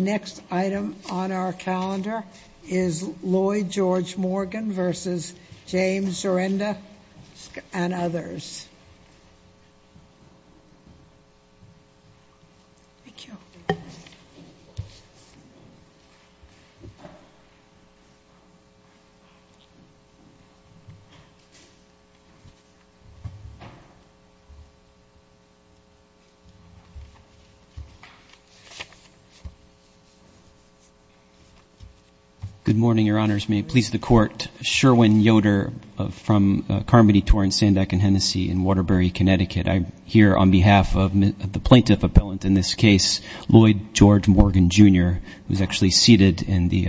The next item on our calendar is Lloyd George Morgan v. James Dzurenda, Jr. v. others. Good morning, Your Honors. May it please the Court, Sherwin Yoder from Carmody, Torrance, Sandeck, and Hennessy in Waterbury, Connecticut. I'm here on behalf of the plaintiff appellant in this case, Lloyd George Morgan, Jr., who's actually seated in the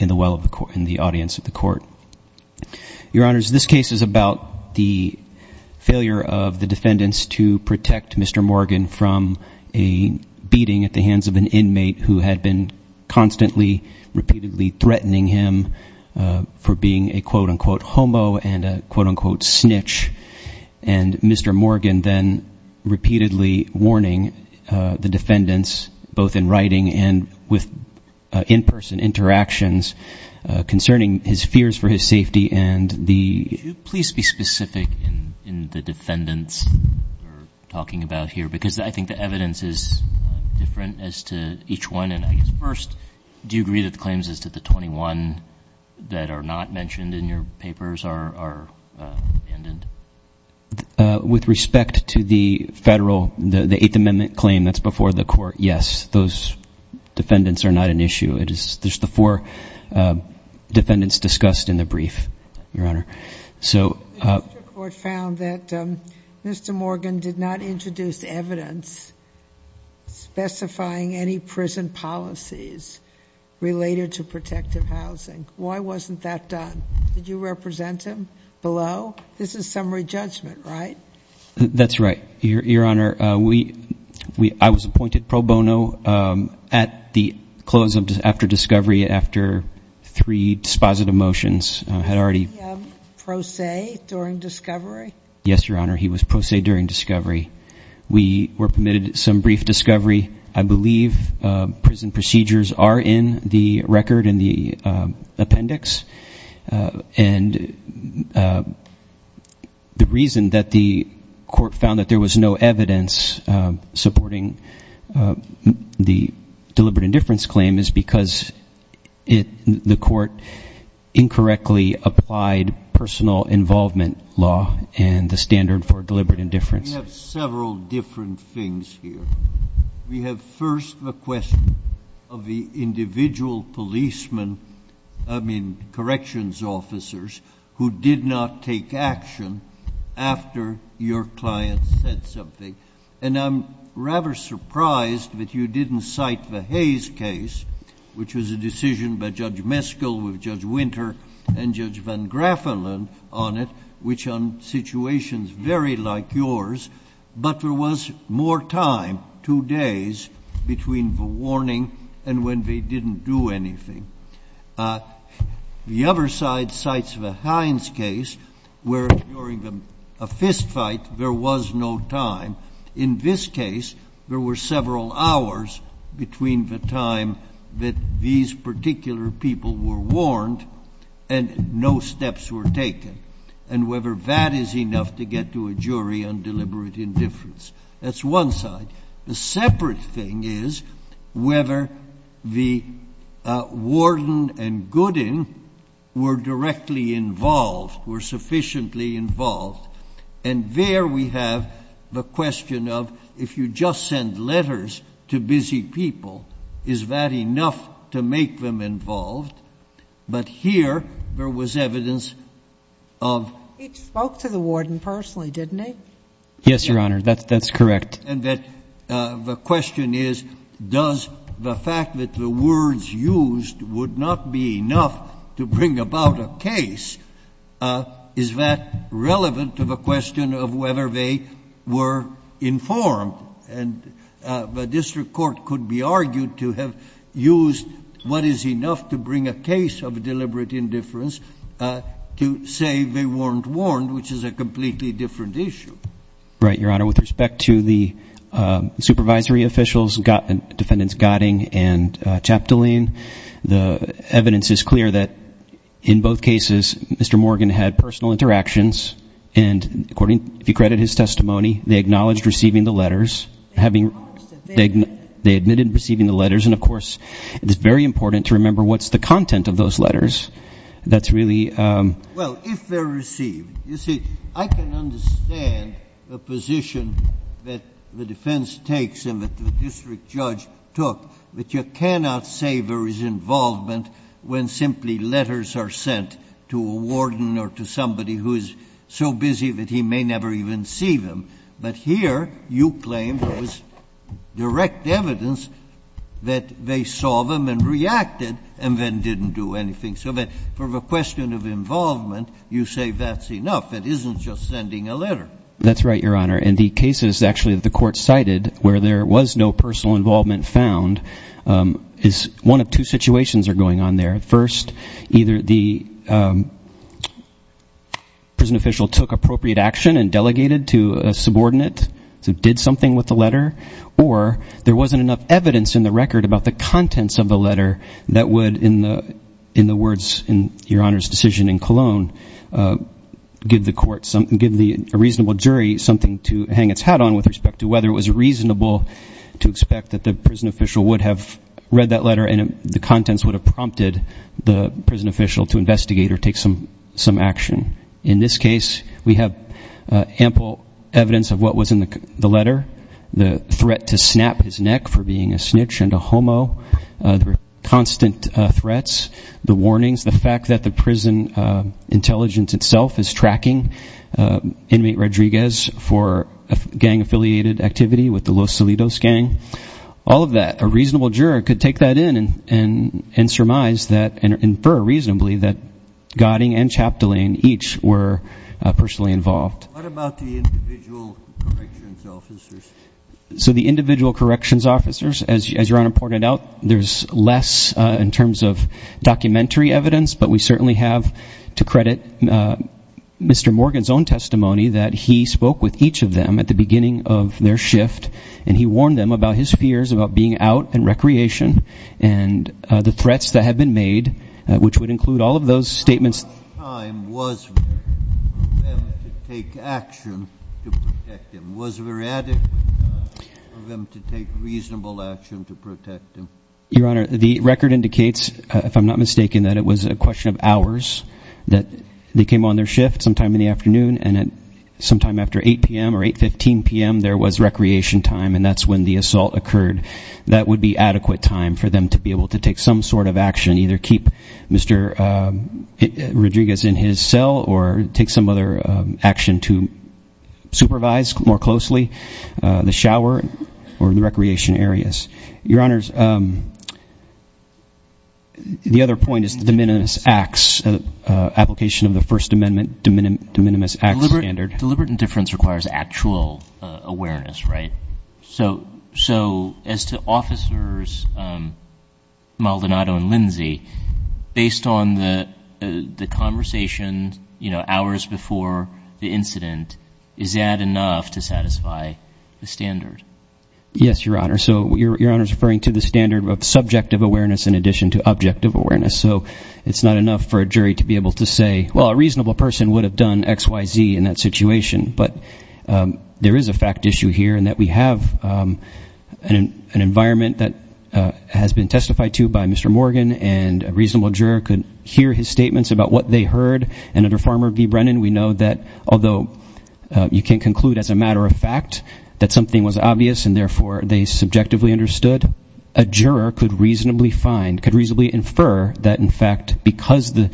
well of the court, in the audience of the court. Your Honors, this case is about the failure of the defendants to protect Mr. Morgan from a beating at the hands of an inmate who had been constantly, repeatedly threatening him for being a quote-unquote homo and a quote-unquote snitch. And Mr. Morgan then repeatedly warning the defendants, both in writing and with in-person interactions, concerning his fears for his safety and the... I think the evidence is different as to each one, and I guess first, do you agree that the claims as to the 21 that are not mentioned in your papers are abandoned? With respect to the federal, the Eighth Amendment claim that's before the court, yes, those defendants are not an issue. It is just the four defendants discussed in the brief, Your Honor. The district court found that Mr. Morgan did not introduce evidence specifying any prison policies related to protective housing. Why wasn't that done? Did you represent him below? This is summary judgment, right? That's right, Your Honor. I was appointed pro bono at the close after discovery after three dispositive motions. Was he pro se during discovery? Yes, Your Honor. He was pro se during discovery. We were permitted some brief discovery. I believe prison procedures are in the record in the appendix. And the reason that the court found that there was no evidence supporting the deliberate indifference claim is because the court incorrectly applied personal involvement law and the standard for deliberate indifference. We have several different things here. We have first the question of the individual policeman, I mean corrections officers, who did not take action after your client said something. And I'm rather surprised that you didn't cite the Hayes case, which was a decision by Judge Meskel with Judge Winter and Judge Van Graffelen on it, which on situations very like yours. But there was more time, two days, between the warning and when they didn't do anything. The other side cites the Hines case, where during a fistfight there was no time. In this case, there were several hours between the time that these particular people were warned and no steps were taken. And whether that is enough to get to a jury on deliberate indifference. That's one side. The separate thing is whether the warden and Gooding were directly involved, were sufficiently involved. And there we have the question of if you just send letters to busy people, is that enough to make them involved? But here there was evidence of — He spoke to the warden personally, didn't he? Yes, Your Honor. That's correct. And that the question is, does the fact that the words used would not be enough to bring about a case, is that relevant to the question of whether they were informed? And the district court could be argued to have used what is enough to bring a case of deliberate indifference to say they weren't warned, which is a completely different issue. Right, Your Honor. With respect to the supervisory officials, Defendants Gotting and Chaptaline, the evidence is clear that in both cases Mr. Morgan had personal interactions. And according — if you credit his testimony, they acknowledged receiving the letters. They acknowledged that they had. They admitted receiving the letters. And, of course, it is very important to remember what's the content of those letters. That's really — Well, if they're received, you see, I can understand the position that the defense takes and that the district judge took, that you cannot say there is involvement when simply letters are sent to a warden or to somebody who is so busy that he may never even see them. But here you claim there was direct evidence that they saw them and reacted and then didn't do anything. So that for the question of involvement, you say that's enough. It isn't just sending a letter. That's right, Your Honor. In the cases, actually, that the court cited where there was no personal involvement found, one of two situations are going on there. First, either the prison official took appropriate action and delegated to a subordinate who did something with the letter, or there wasn't enough evidence in the record about the contents of the letter that would, in the words in Your Honor's decision in Colon, give the court — give a reasonable jury something to hang its hat on with respect to whether it was reasonable to expect that the prison official would have read that letter and the contents would have prompted the prison official to investigate or take some action. In this case, we have ample evidence of what was in the letter, the threat to snap his neck for being a snitch and a homo, the constant threats, the warnings, the fact that the prison intelligence itself is tracking inmate Rodriguez for gang-affiliated activity with the Los Salidos gang. All of that. A reasonable juror could take that in and surmise that and infer reasonably that Gotting and Chaptalain each were personally involved. What about the individual corrections officers? So the individual corrections officers, as Your Honor pointed out, there's less in terms of documentary evidence, but we certainly have to credit Mr. Morgan's own testimony that he spoke with each of them at the beginning of their shift, and he warned them about his fears about being out in recreation and the threats that had been made, which would include all of those statements. How much time was there for them to take action to protect him? Was there adequate time for them to take reasonable action to protect him? Your Honor, the record indicates, if I'm not mistaken, that it was a question of hours, that they came on their shift sometime in the afternoon and sometime after 8 p.m. or 8.15 p.m. There was recreation time, and that's when the assault occurred. That would be adequate time for them to be able to take some sort of action, either keep Mr. Rodriguez in his cell or take some other action to supervise more closely the shower or the recreation areas. Your Honors, the other point is the de minimis acts, application of the First Amendment de minimis acts standard. Deliberate indifference requires actual awareness, right? So as to Officers Maldonado and Lindsey, based on the conversation, you know, hours before the incident, is that enough to satisfy the standard? Yes, Your Honor. So Your Honor is referring to the standard of subjective awareness in addition to objective awareness. So it's not enough for a jury to be able to say, well, a reasonable person would have done X, Y, Z in that situation. But there is a fact issue here in that we have an environment that has been testified to by Mr. Morgan, and a reasonable juror could hear his statements about what they heard. And under Farmer v. Brennan, we know that although you can conclude as a matter of fact that something was obvious and, therefore, they subjectively understood, a juror could reasonably find, could reasonably infer that, in fact, because the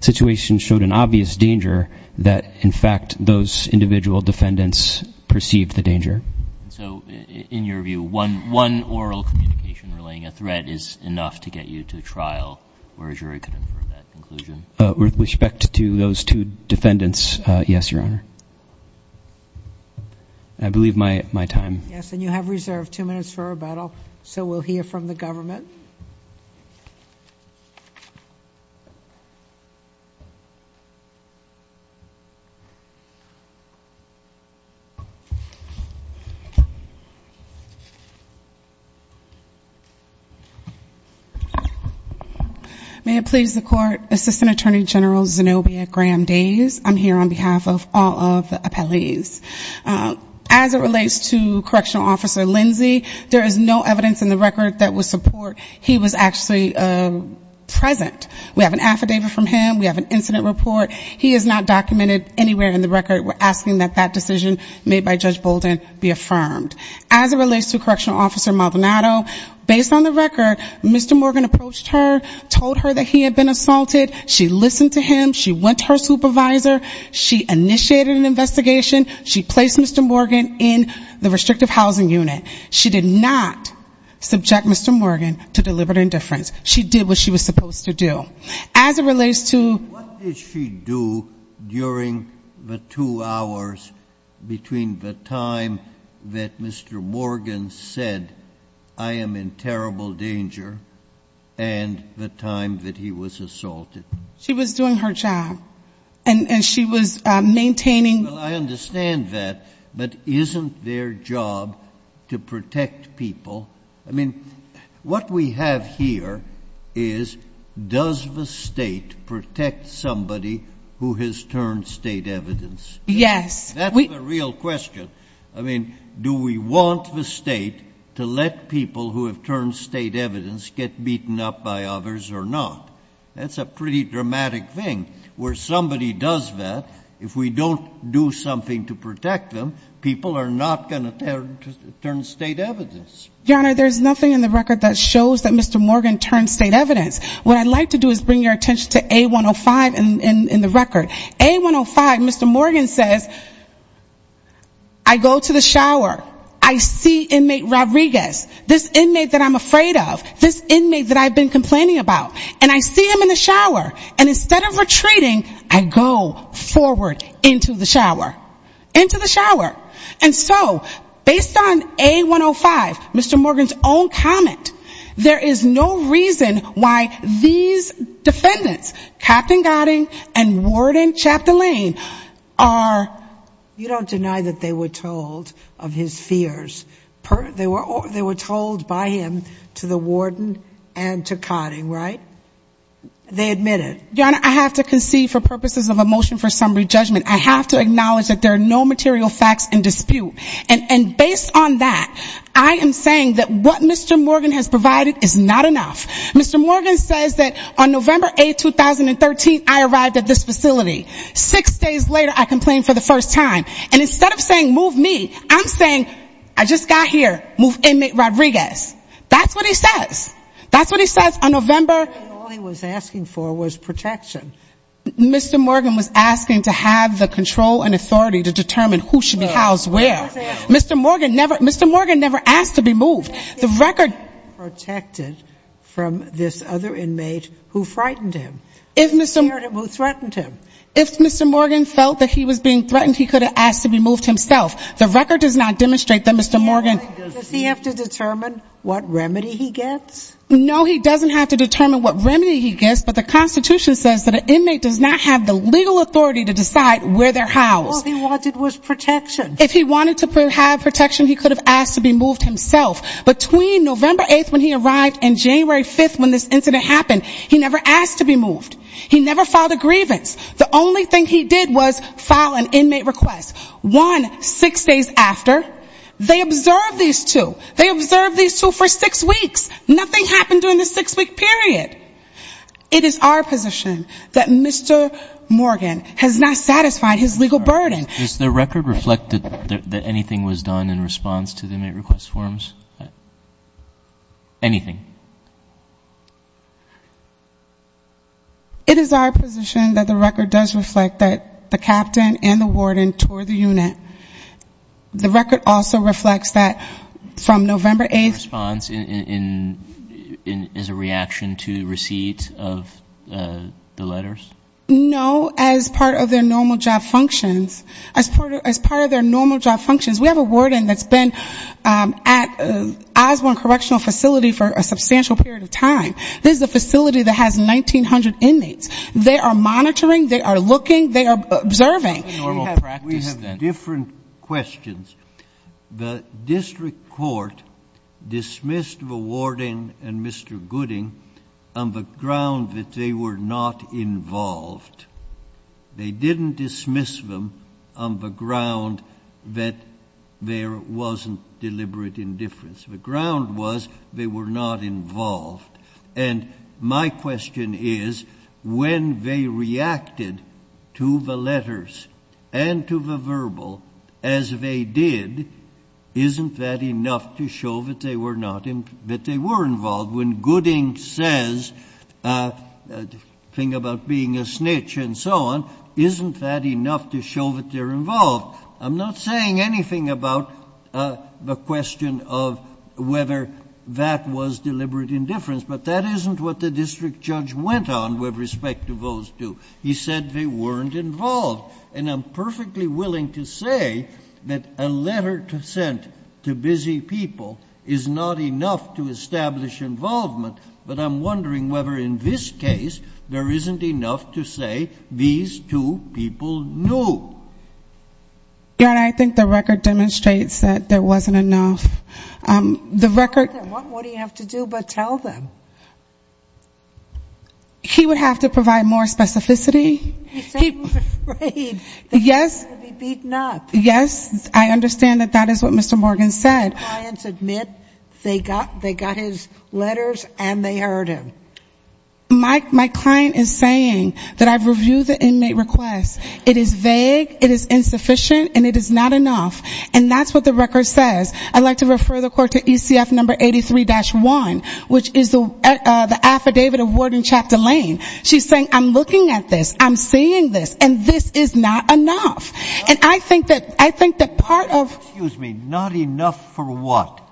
situation showed an obvious danger, that, in fact, those individual defendants perceived the danger. So in your view, one oral communication relaying a threat is enough to get you to a trial where a jury could infer that conclusion? With respect to those two defendants, yes, Your Honor. I believe my time. Yes, and you have reserved two minutes for rebuttal, so we'll hear from the government. May it please the Court, Assistant Attorney General Zenobia Graham-Daze, I'm here on behalf of all of the appellees. As it relates to Correctional Officer Lindsey, there is no evidence in the record that would support he was actually present. We have an affidavit from him. We have an incident report. He is not documented anywhere in the record. We're asking that that decision made by Judge Bolden be affirmed. As it relates to Correctional Officer Maldonado, based on the record, Mr. Morgan approached her, told her that he had been assaulted. She listened to him. She went to her supervisor. She initiated an investigation. She placed Mr. Morgan in the restrictive housing unit. She did not subject Mr. Morgan to deliberate indifference. She did what she was supposed to do. As it relates to- What did she do during the two hours between the time that Mr. Morgan said, I am in terrible danger, and the time that he was assaulted? She was doing her job, and she was maintaining- Well, I understand that, but isn't their job to protect people? I mean, what we have here is, does the state protect somebody who has turned state evidence? Yes. That's the real question. I mean, do we want the state to let people who have turned state evidence get beaten up by others or not? That's a pretty dramatic thing. Where somebody does that, if we don't do something to protect them, people are not going to turn state evidence. Your Honor, there's nothing in the record that shows that Mr. Morgan turned state evidence. What I'd like to do is bring your attention to A105 in the record. A105, Mr. Morgan says, I go to the shower. I see inmate Rodriguez, this inmate that I'm afraid of, this inmate that I've been complaining about. And I see him in the shower. And instead of retreating, I go forward into the shower. Into the shower. And so, based on A105, Mr. Morgan's own comment, there is no reason why these defendants, Captain Godding and Warden Chaptolaine, are- You don't deny that they were told of his fears. They were told by him to the warden and to Godding, right? They admitted. Your Honor, I have to concede for purposes of a motion for summary judgment. I have to acknowledge that there are no material facts in dispute. And based on that, I am saying that what Mr. Morgan has provided is not enough. Mr. Morgan says that on November 8, 2013, I arrived at this facility. Six days later, I complained for the first time. And instead of saying, move me, I'm saying, I just got here. Move inmate Rodriguez. That's what he says. That's what he says on November- All he was asking for was protection. Mr. Morgan was asking to have the control and authority to determine who should be housed where. Mr. Morgan never asked to be moved. The record- Protected from this other inmate who frightened him. Who threatened him. If Mr. Morgan felt that he was being threatened, he could have asked to be moved himself. The record does not demonstrate that Mr. Morgan- Does he have to determine what remedy he gets? No, he doesn't have to determine what remedy he gets. But the Constitution says that an inmate does not have the legal authority to decide where they're housed. All he wanted was protection. If he wanted to have protection, he could have asked to be moved himself. Between November 8th when he arrived and January 5th when this incident happened, he never asked to be moved. He never filed a grievance. The only thing he did was file an inmate request. One, six days after, they observed these two. They observed these two for six weeks. Nothing happened during the six-week period. It is our position that Mr. Morgan has not satisfied his legal burden. Does the record reflect that anything was done in response to the inmate request forms? Anything. It is our position that the record does reflect that the captain and the warden toured the unit. The record also reflects that from November 8th- A response in as a reaction to receipts of the letters? No, as part of their normal job functions. As part of their normal job functions. We have a warden that's been at Osborne Correctional Facility for a substantial period of time. This is a facility that has 1,900 inmates. They are monitoring. They are looking. They are observing. We have different questions. The district court dismissed the warden and Mr. Gooding on the ground that they were not involved. They didn't dismiss them on the ground that there wasn't deliberate indifference. The ground was they were not involved. And my question is, when they reacted to the letters and to the verbal as they did, isn't that enough to show that they were involved? When Gooding says a thing about being a snitch and so on, isn't that enough to show that they're involved? I'm not saying anything about the question of whether that was deliberate indifference, but that isn't what the district judge went on with respect to those two. He said they weren't involved. And I'm perfectly willing to say that a letter sent to busy people is not enough to establish involvement, but I'm wondering whether in this case there isn't enough to say these two people knew. I think the record demonstrates that there wasn't enough. What do you have to do but tell them? He would have to provide more specificity. He said he was afraid that he would be beaten up. Yes, I understand that that is what Mr. Morgan said. My clients admit they got his letters and they heard him. My client is saying that I've reviewed the inmate request. It is vague, it is insufficient, and it is not enough. And that's what the record says. I'd like to refer the court to ECF number 83-1, which is the affidavit of Warden Chap Delane. She's saying, I'm looking at this, I'm seeing this, and this is not enough. And I think that part of ---- Excuse me, not enough for what?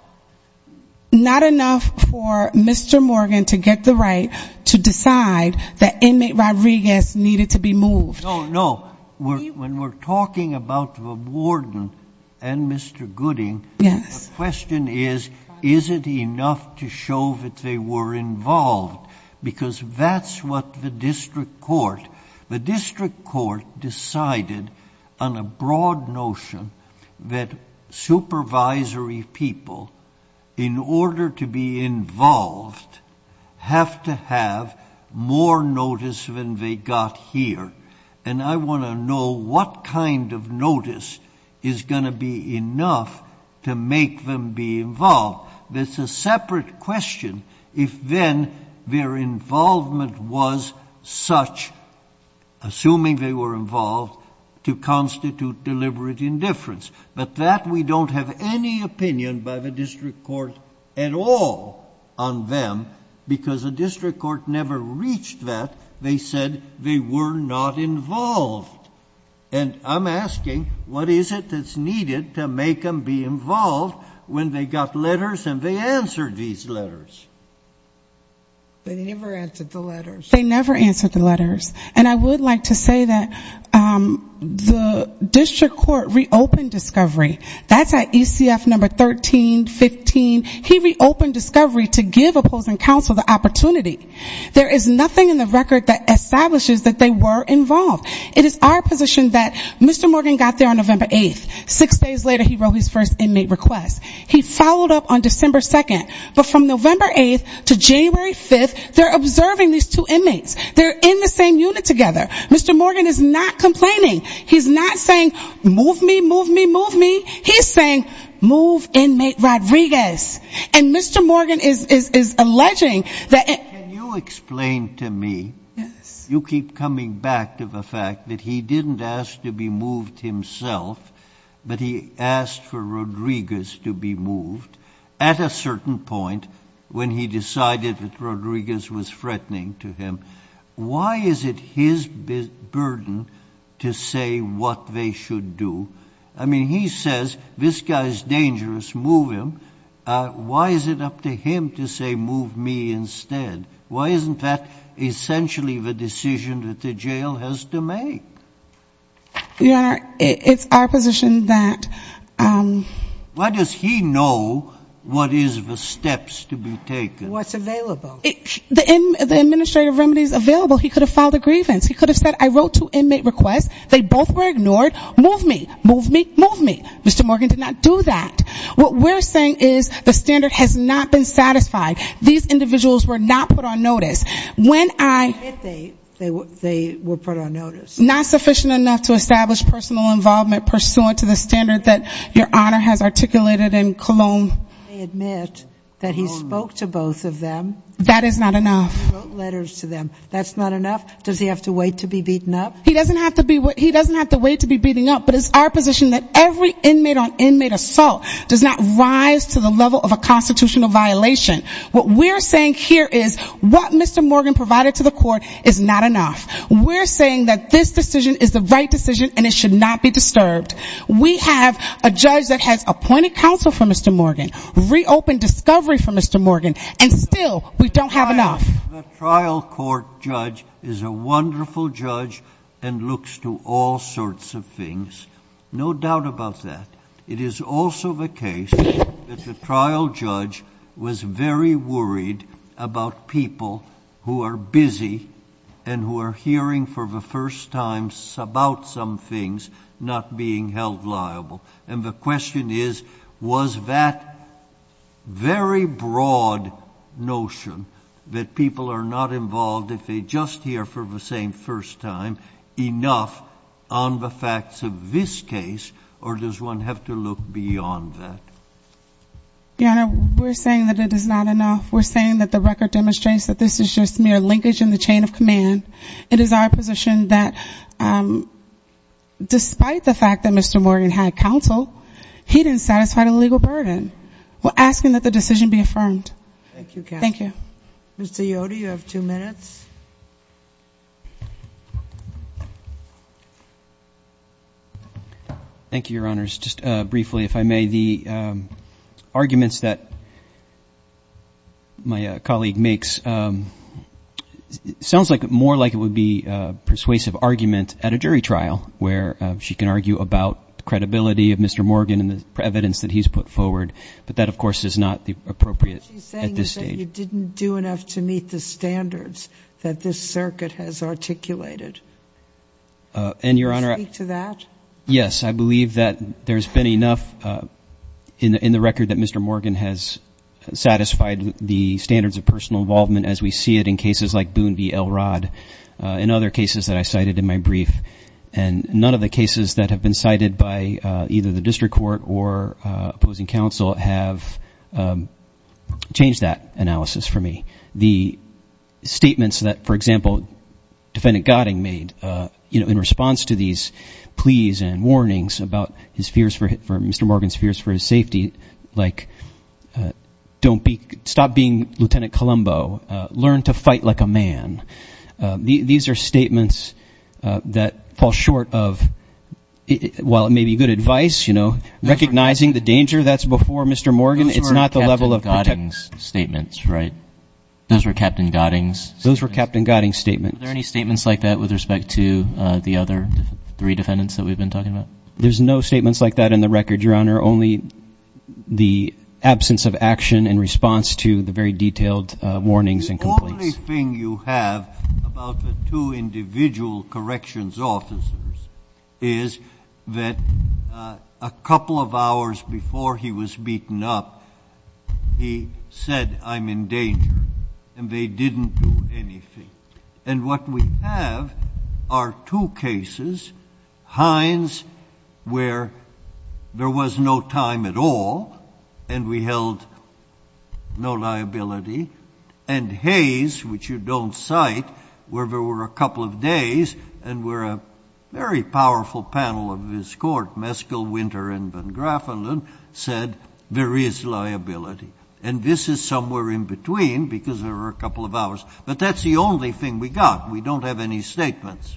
Not enough for Mr. Morgan to get the right to decide that inmate Rodriguez needed to be moved. No, no. When we're talking about the warden and Mr. Gooding, the question is, is it enough to show that they were involved? Because that's what the district court, the district court decided on a broad notion that supervisory people, in order to be involved, have to have more notice than they got here. And I want to know what kind of notice is going to be enough to make them be involved. That's a separate question if then their involvement was such, assuming they were involved, to constitute deliberate indifference. But that we don't have any opinion by the district court at all on them, because the district court never reached that. They said they were not involved. And I'm asking, what is it that's needed to make them be involved when they got letters and they answered these letters? They never answered the letters. They never answered the letters. And I would like to say that the district court reopened discovery. That's at ECF number 1315. He reopened discovery to give opposing counsel the opportunity. There is nothing in the record that establishes that they were involved. It is our position that Mr. Morgan got there on November 8th. Six days later, he wrote his first inmate request. He followed up on December 2nd. But from November 8th to January 5th, they're observing these two inmates. They're in the same unit together. Mr. Morgan is not complaining. He's not saying, move me, move me, move me. He's saying, move inmate Rodriguez. Yes. And Mr. Morgan is alleging that. Can you explain to me. Yes. You keep coming back to the fact that he didn't ask to be moved himself, but he asked for Rodriguez to be moved at a certain point when he decided that Rodriguez was threatening to him. Why is it his burden to say what they should do? I mean, he says this guy is dangerous, move him. Why is it up to him to say move me instead? Why isn't that essentially the decision that the jail has to make? Your Honor, it's our position that. Why does he know what is the steps to be taken? What's available. The administrative remedies available. He could have filed a grievance. He could have said I wrote two inmate requests. They both were ignored. Move me. Move me. Move me. Mr. Morgan did not do that. What we're saying is the standard has not been satisfied. These individuals were not put on notice. When I. They were put on notice. Not sufficient enough to establish personal involvement pursuant to the standard that Your Honor has articulated in Cologne. They admit that he spoke to both of them. That is not enough. He wrote letters to them. That's not enough? Does he have to wait to be beaten up? He doesn't have to wait to be beaten up, but it's our position that every inmate on inmate assault does not rise to the level of a constitutional violation. What we're saying here is what Mr. Morgan provided to the court is not enough. We're saying that this decision is the right decision and it should not be disturbed. We have a judge that has appointed counsel for Mr. Morgan, reopened discovery for Mr. Morgan, and still we don't have enough. The trial court judge is a wonderful judge and looks to all sorts of things. No doubt about that. It is also the case that the trial judge was very worried about people who are busy and who are hearing for the first time about some things not being held liable. And the question is, was that very broad notion that people are not involved if they just hear for the same first time enough on the facts of this case, or does one have to look beyond that? Your Honor, we're saying that it is not enough. We're saying that the record demonstrates that this is just mere linkage in the chain of command. It is our position that despite the fact that Mr. Morgan had counsel, he didn't satisfy the legal burden. We're asking that the decision be affirmed. Thank you, counsel. Thank you. Mr. Yoder, you have two minutes. Thank you, Your Honors. Just briefly, if I may, the arguments that my colleague makes sounds more like it would be a persuasive argument at a jury trial where she can argue about the credibility of Mr. Morgan and the evidence that he's put forward. But that, of course, is not appropriate at this stage. What she's saying is that you didn't do enough to meet the standards that this circuit has articulated. And, Your Honor — Can you speak to that? Yes. I believe that there's been enough in the record that Mr. Morgan has satisfied the standards of personal involvement, as we see it in cases like Boone v. Elrod and other cases that I cited in my brief. And none of the cases that have been cited by either the district court or opposing counsel have changed that analysis for me. The statements that, for example, Defendant Gotting made in response to these pleas and warnings about Mr. Morgan's fears for his safety, like, stop being Lieutenant Columbo, learn to fight like a man. These are statements that fall short of, while it may be good advice, you know, recognizing the danger that's before Mr. Morgan. Those were Captain Gotting's statements, right? Those were Captain Gotting's? Those were Captain Gotting's statements. Were there any statements like that with respect to the other three defendants that we've been talking about? There's no statements like that in the record, Your Honor, only the absence of action in response to the very detailed warnings and complaints. The only thing you have about the two individual corrections officers is that a couple of hours before he was beaten up, he said, I'm in danger, and they didn't do anything. And what we have are two cases, Hines, where there was no time at all and we held no liability, and Hayes, which you don't cite, where there were a couple of days and where a very powerful panel of his court, Meskel, Winter, and Van Graffelen, said there is liability. And this is somewhere in between because there were a couple of hours. But that's the only thing we got. We don't have any statements.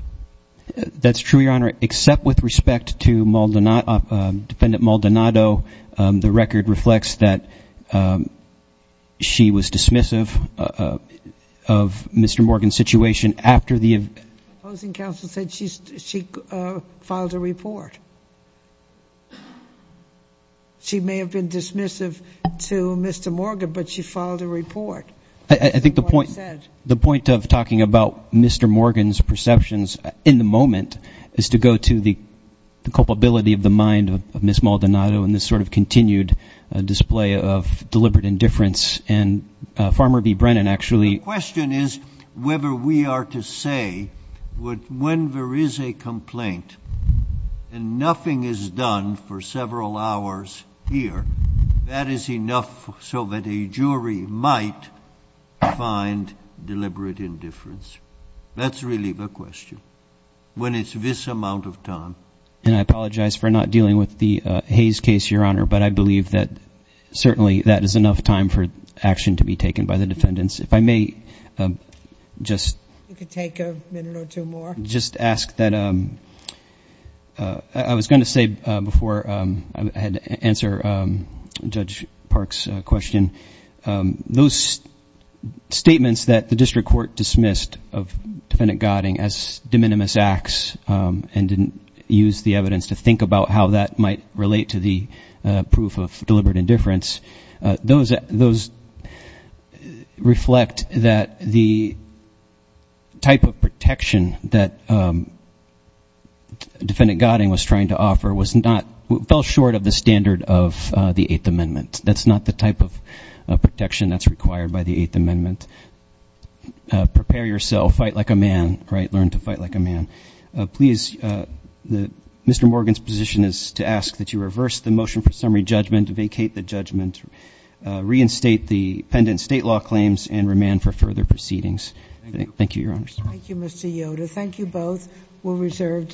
That's true, Your Honor, except with respect to Defendant Maldonado. The record reflects that she was dismissive of Mr. Morgan's situation after the event. The opposing counsel said she filed a report. She may have been dismissive to Mr. Morgan, but she filed a report. I think the point of talking about Mr. Morgan's perceptions in the moment is to go to the culpability of the mind of Ms. Maldonado in this sort of continued display of deliberate indifference. And Farmer v. Brennan actually ---- The question is whether we are to say when there is a complaint and nothing is done for several hours here, that is enough so that a jury might find deliberate indifference. That's really the question when it's this amount of time. And I apologize for not dealing with the Hayes case, Your Honor, but I believe that certainly that is enough time for action to be taken by the defendants. If I may just ask that I was going to say before I had to answer Judge Park's question, those statements that the district court dismissed of Defendant Godding as de minimis acts and didn't use the evidence to think about how that might relate to the proof of deliberate indifference, those reflect that the type of protection that Defendant Godding was trying to offer was not ---- fell short of the standard of the Eighth Amendment. That's not the type of protection that's required by the Eighth Amendment. Prepare yourself. Fight like a man, right? Learn to fight like a man. Please, Mr. Morgan's position is to ask that you reverse the motion for summary judgment, vacate the judgment, reinstate the pendent state law claims, and remand for further proceedings. Thank you, Your Honors. Thank you, Mr. Yoder. Thank you both. We're reserved.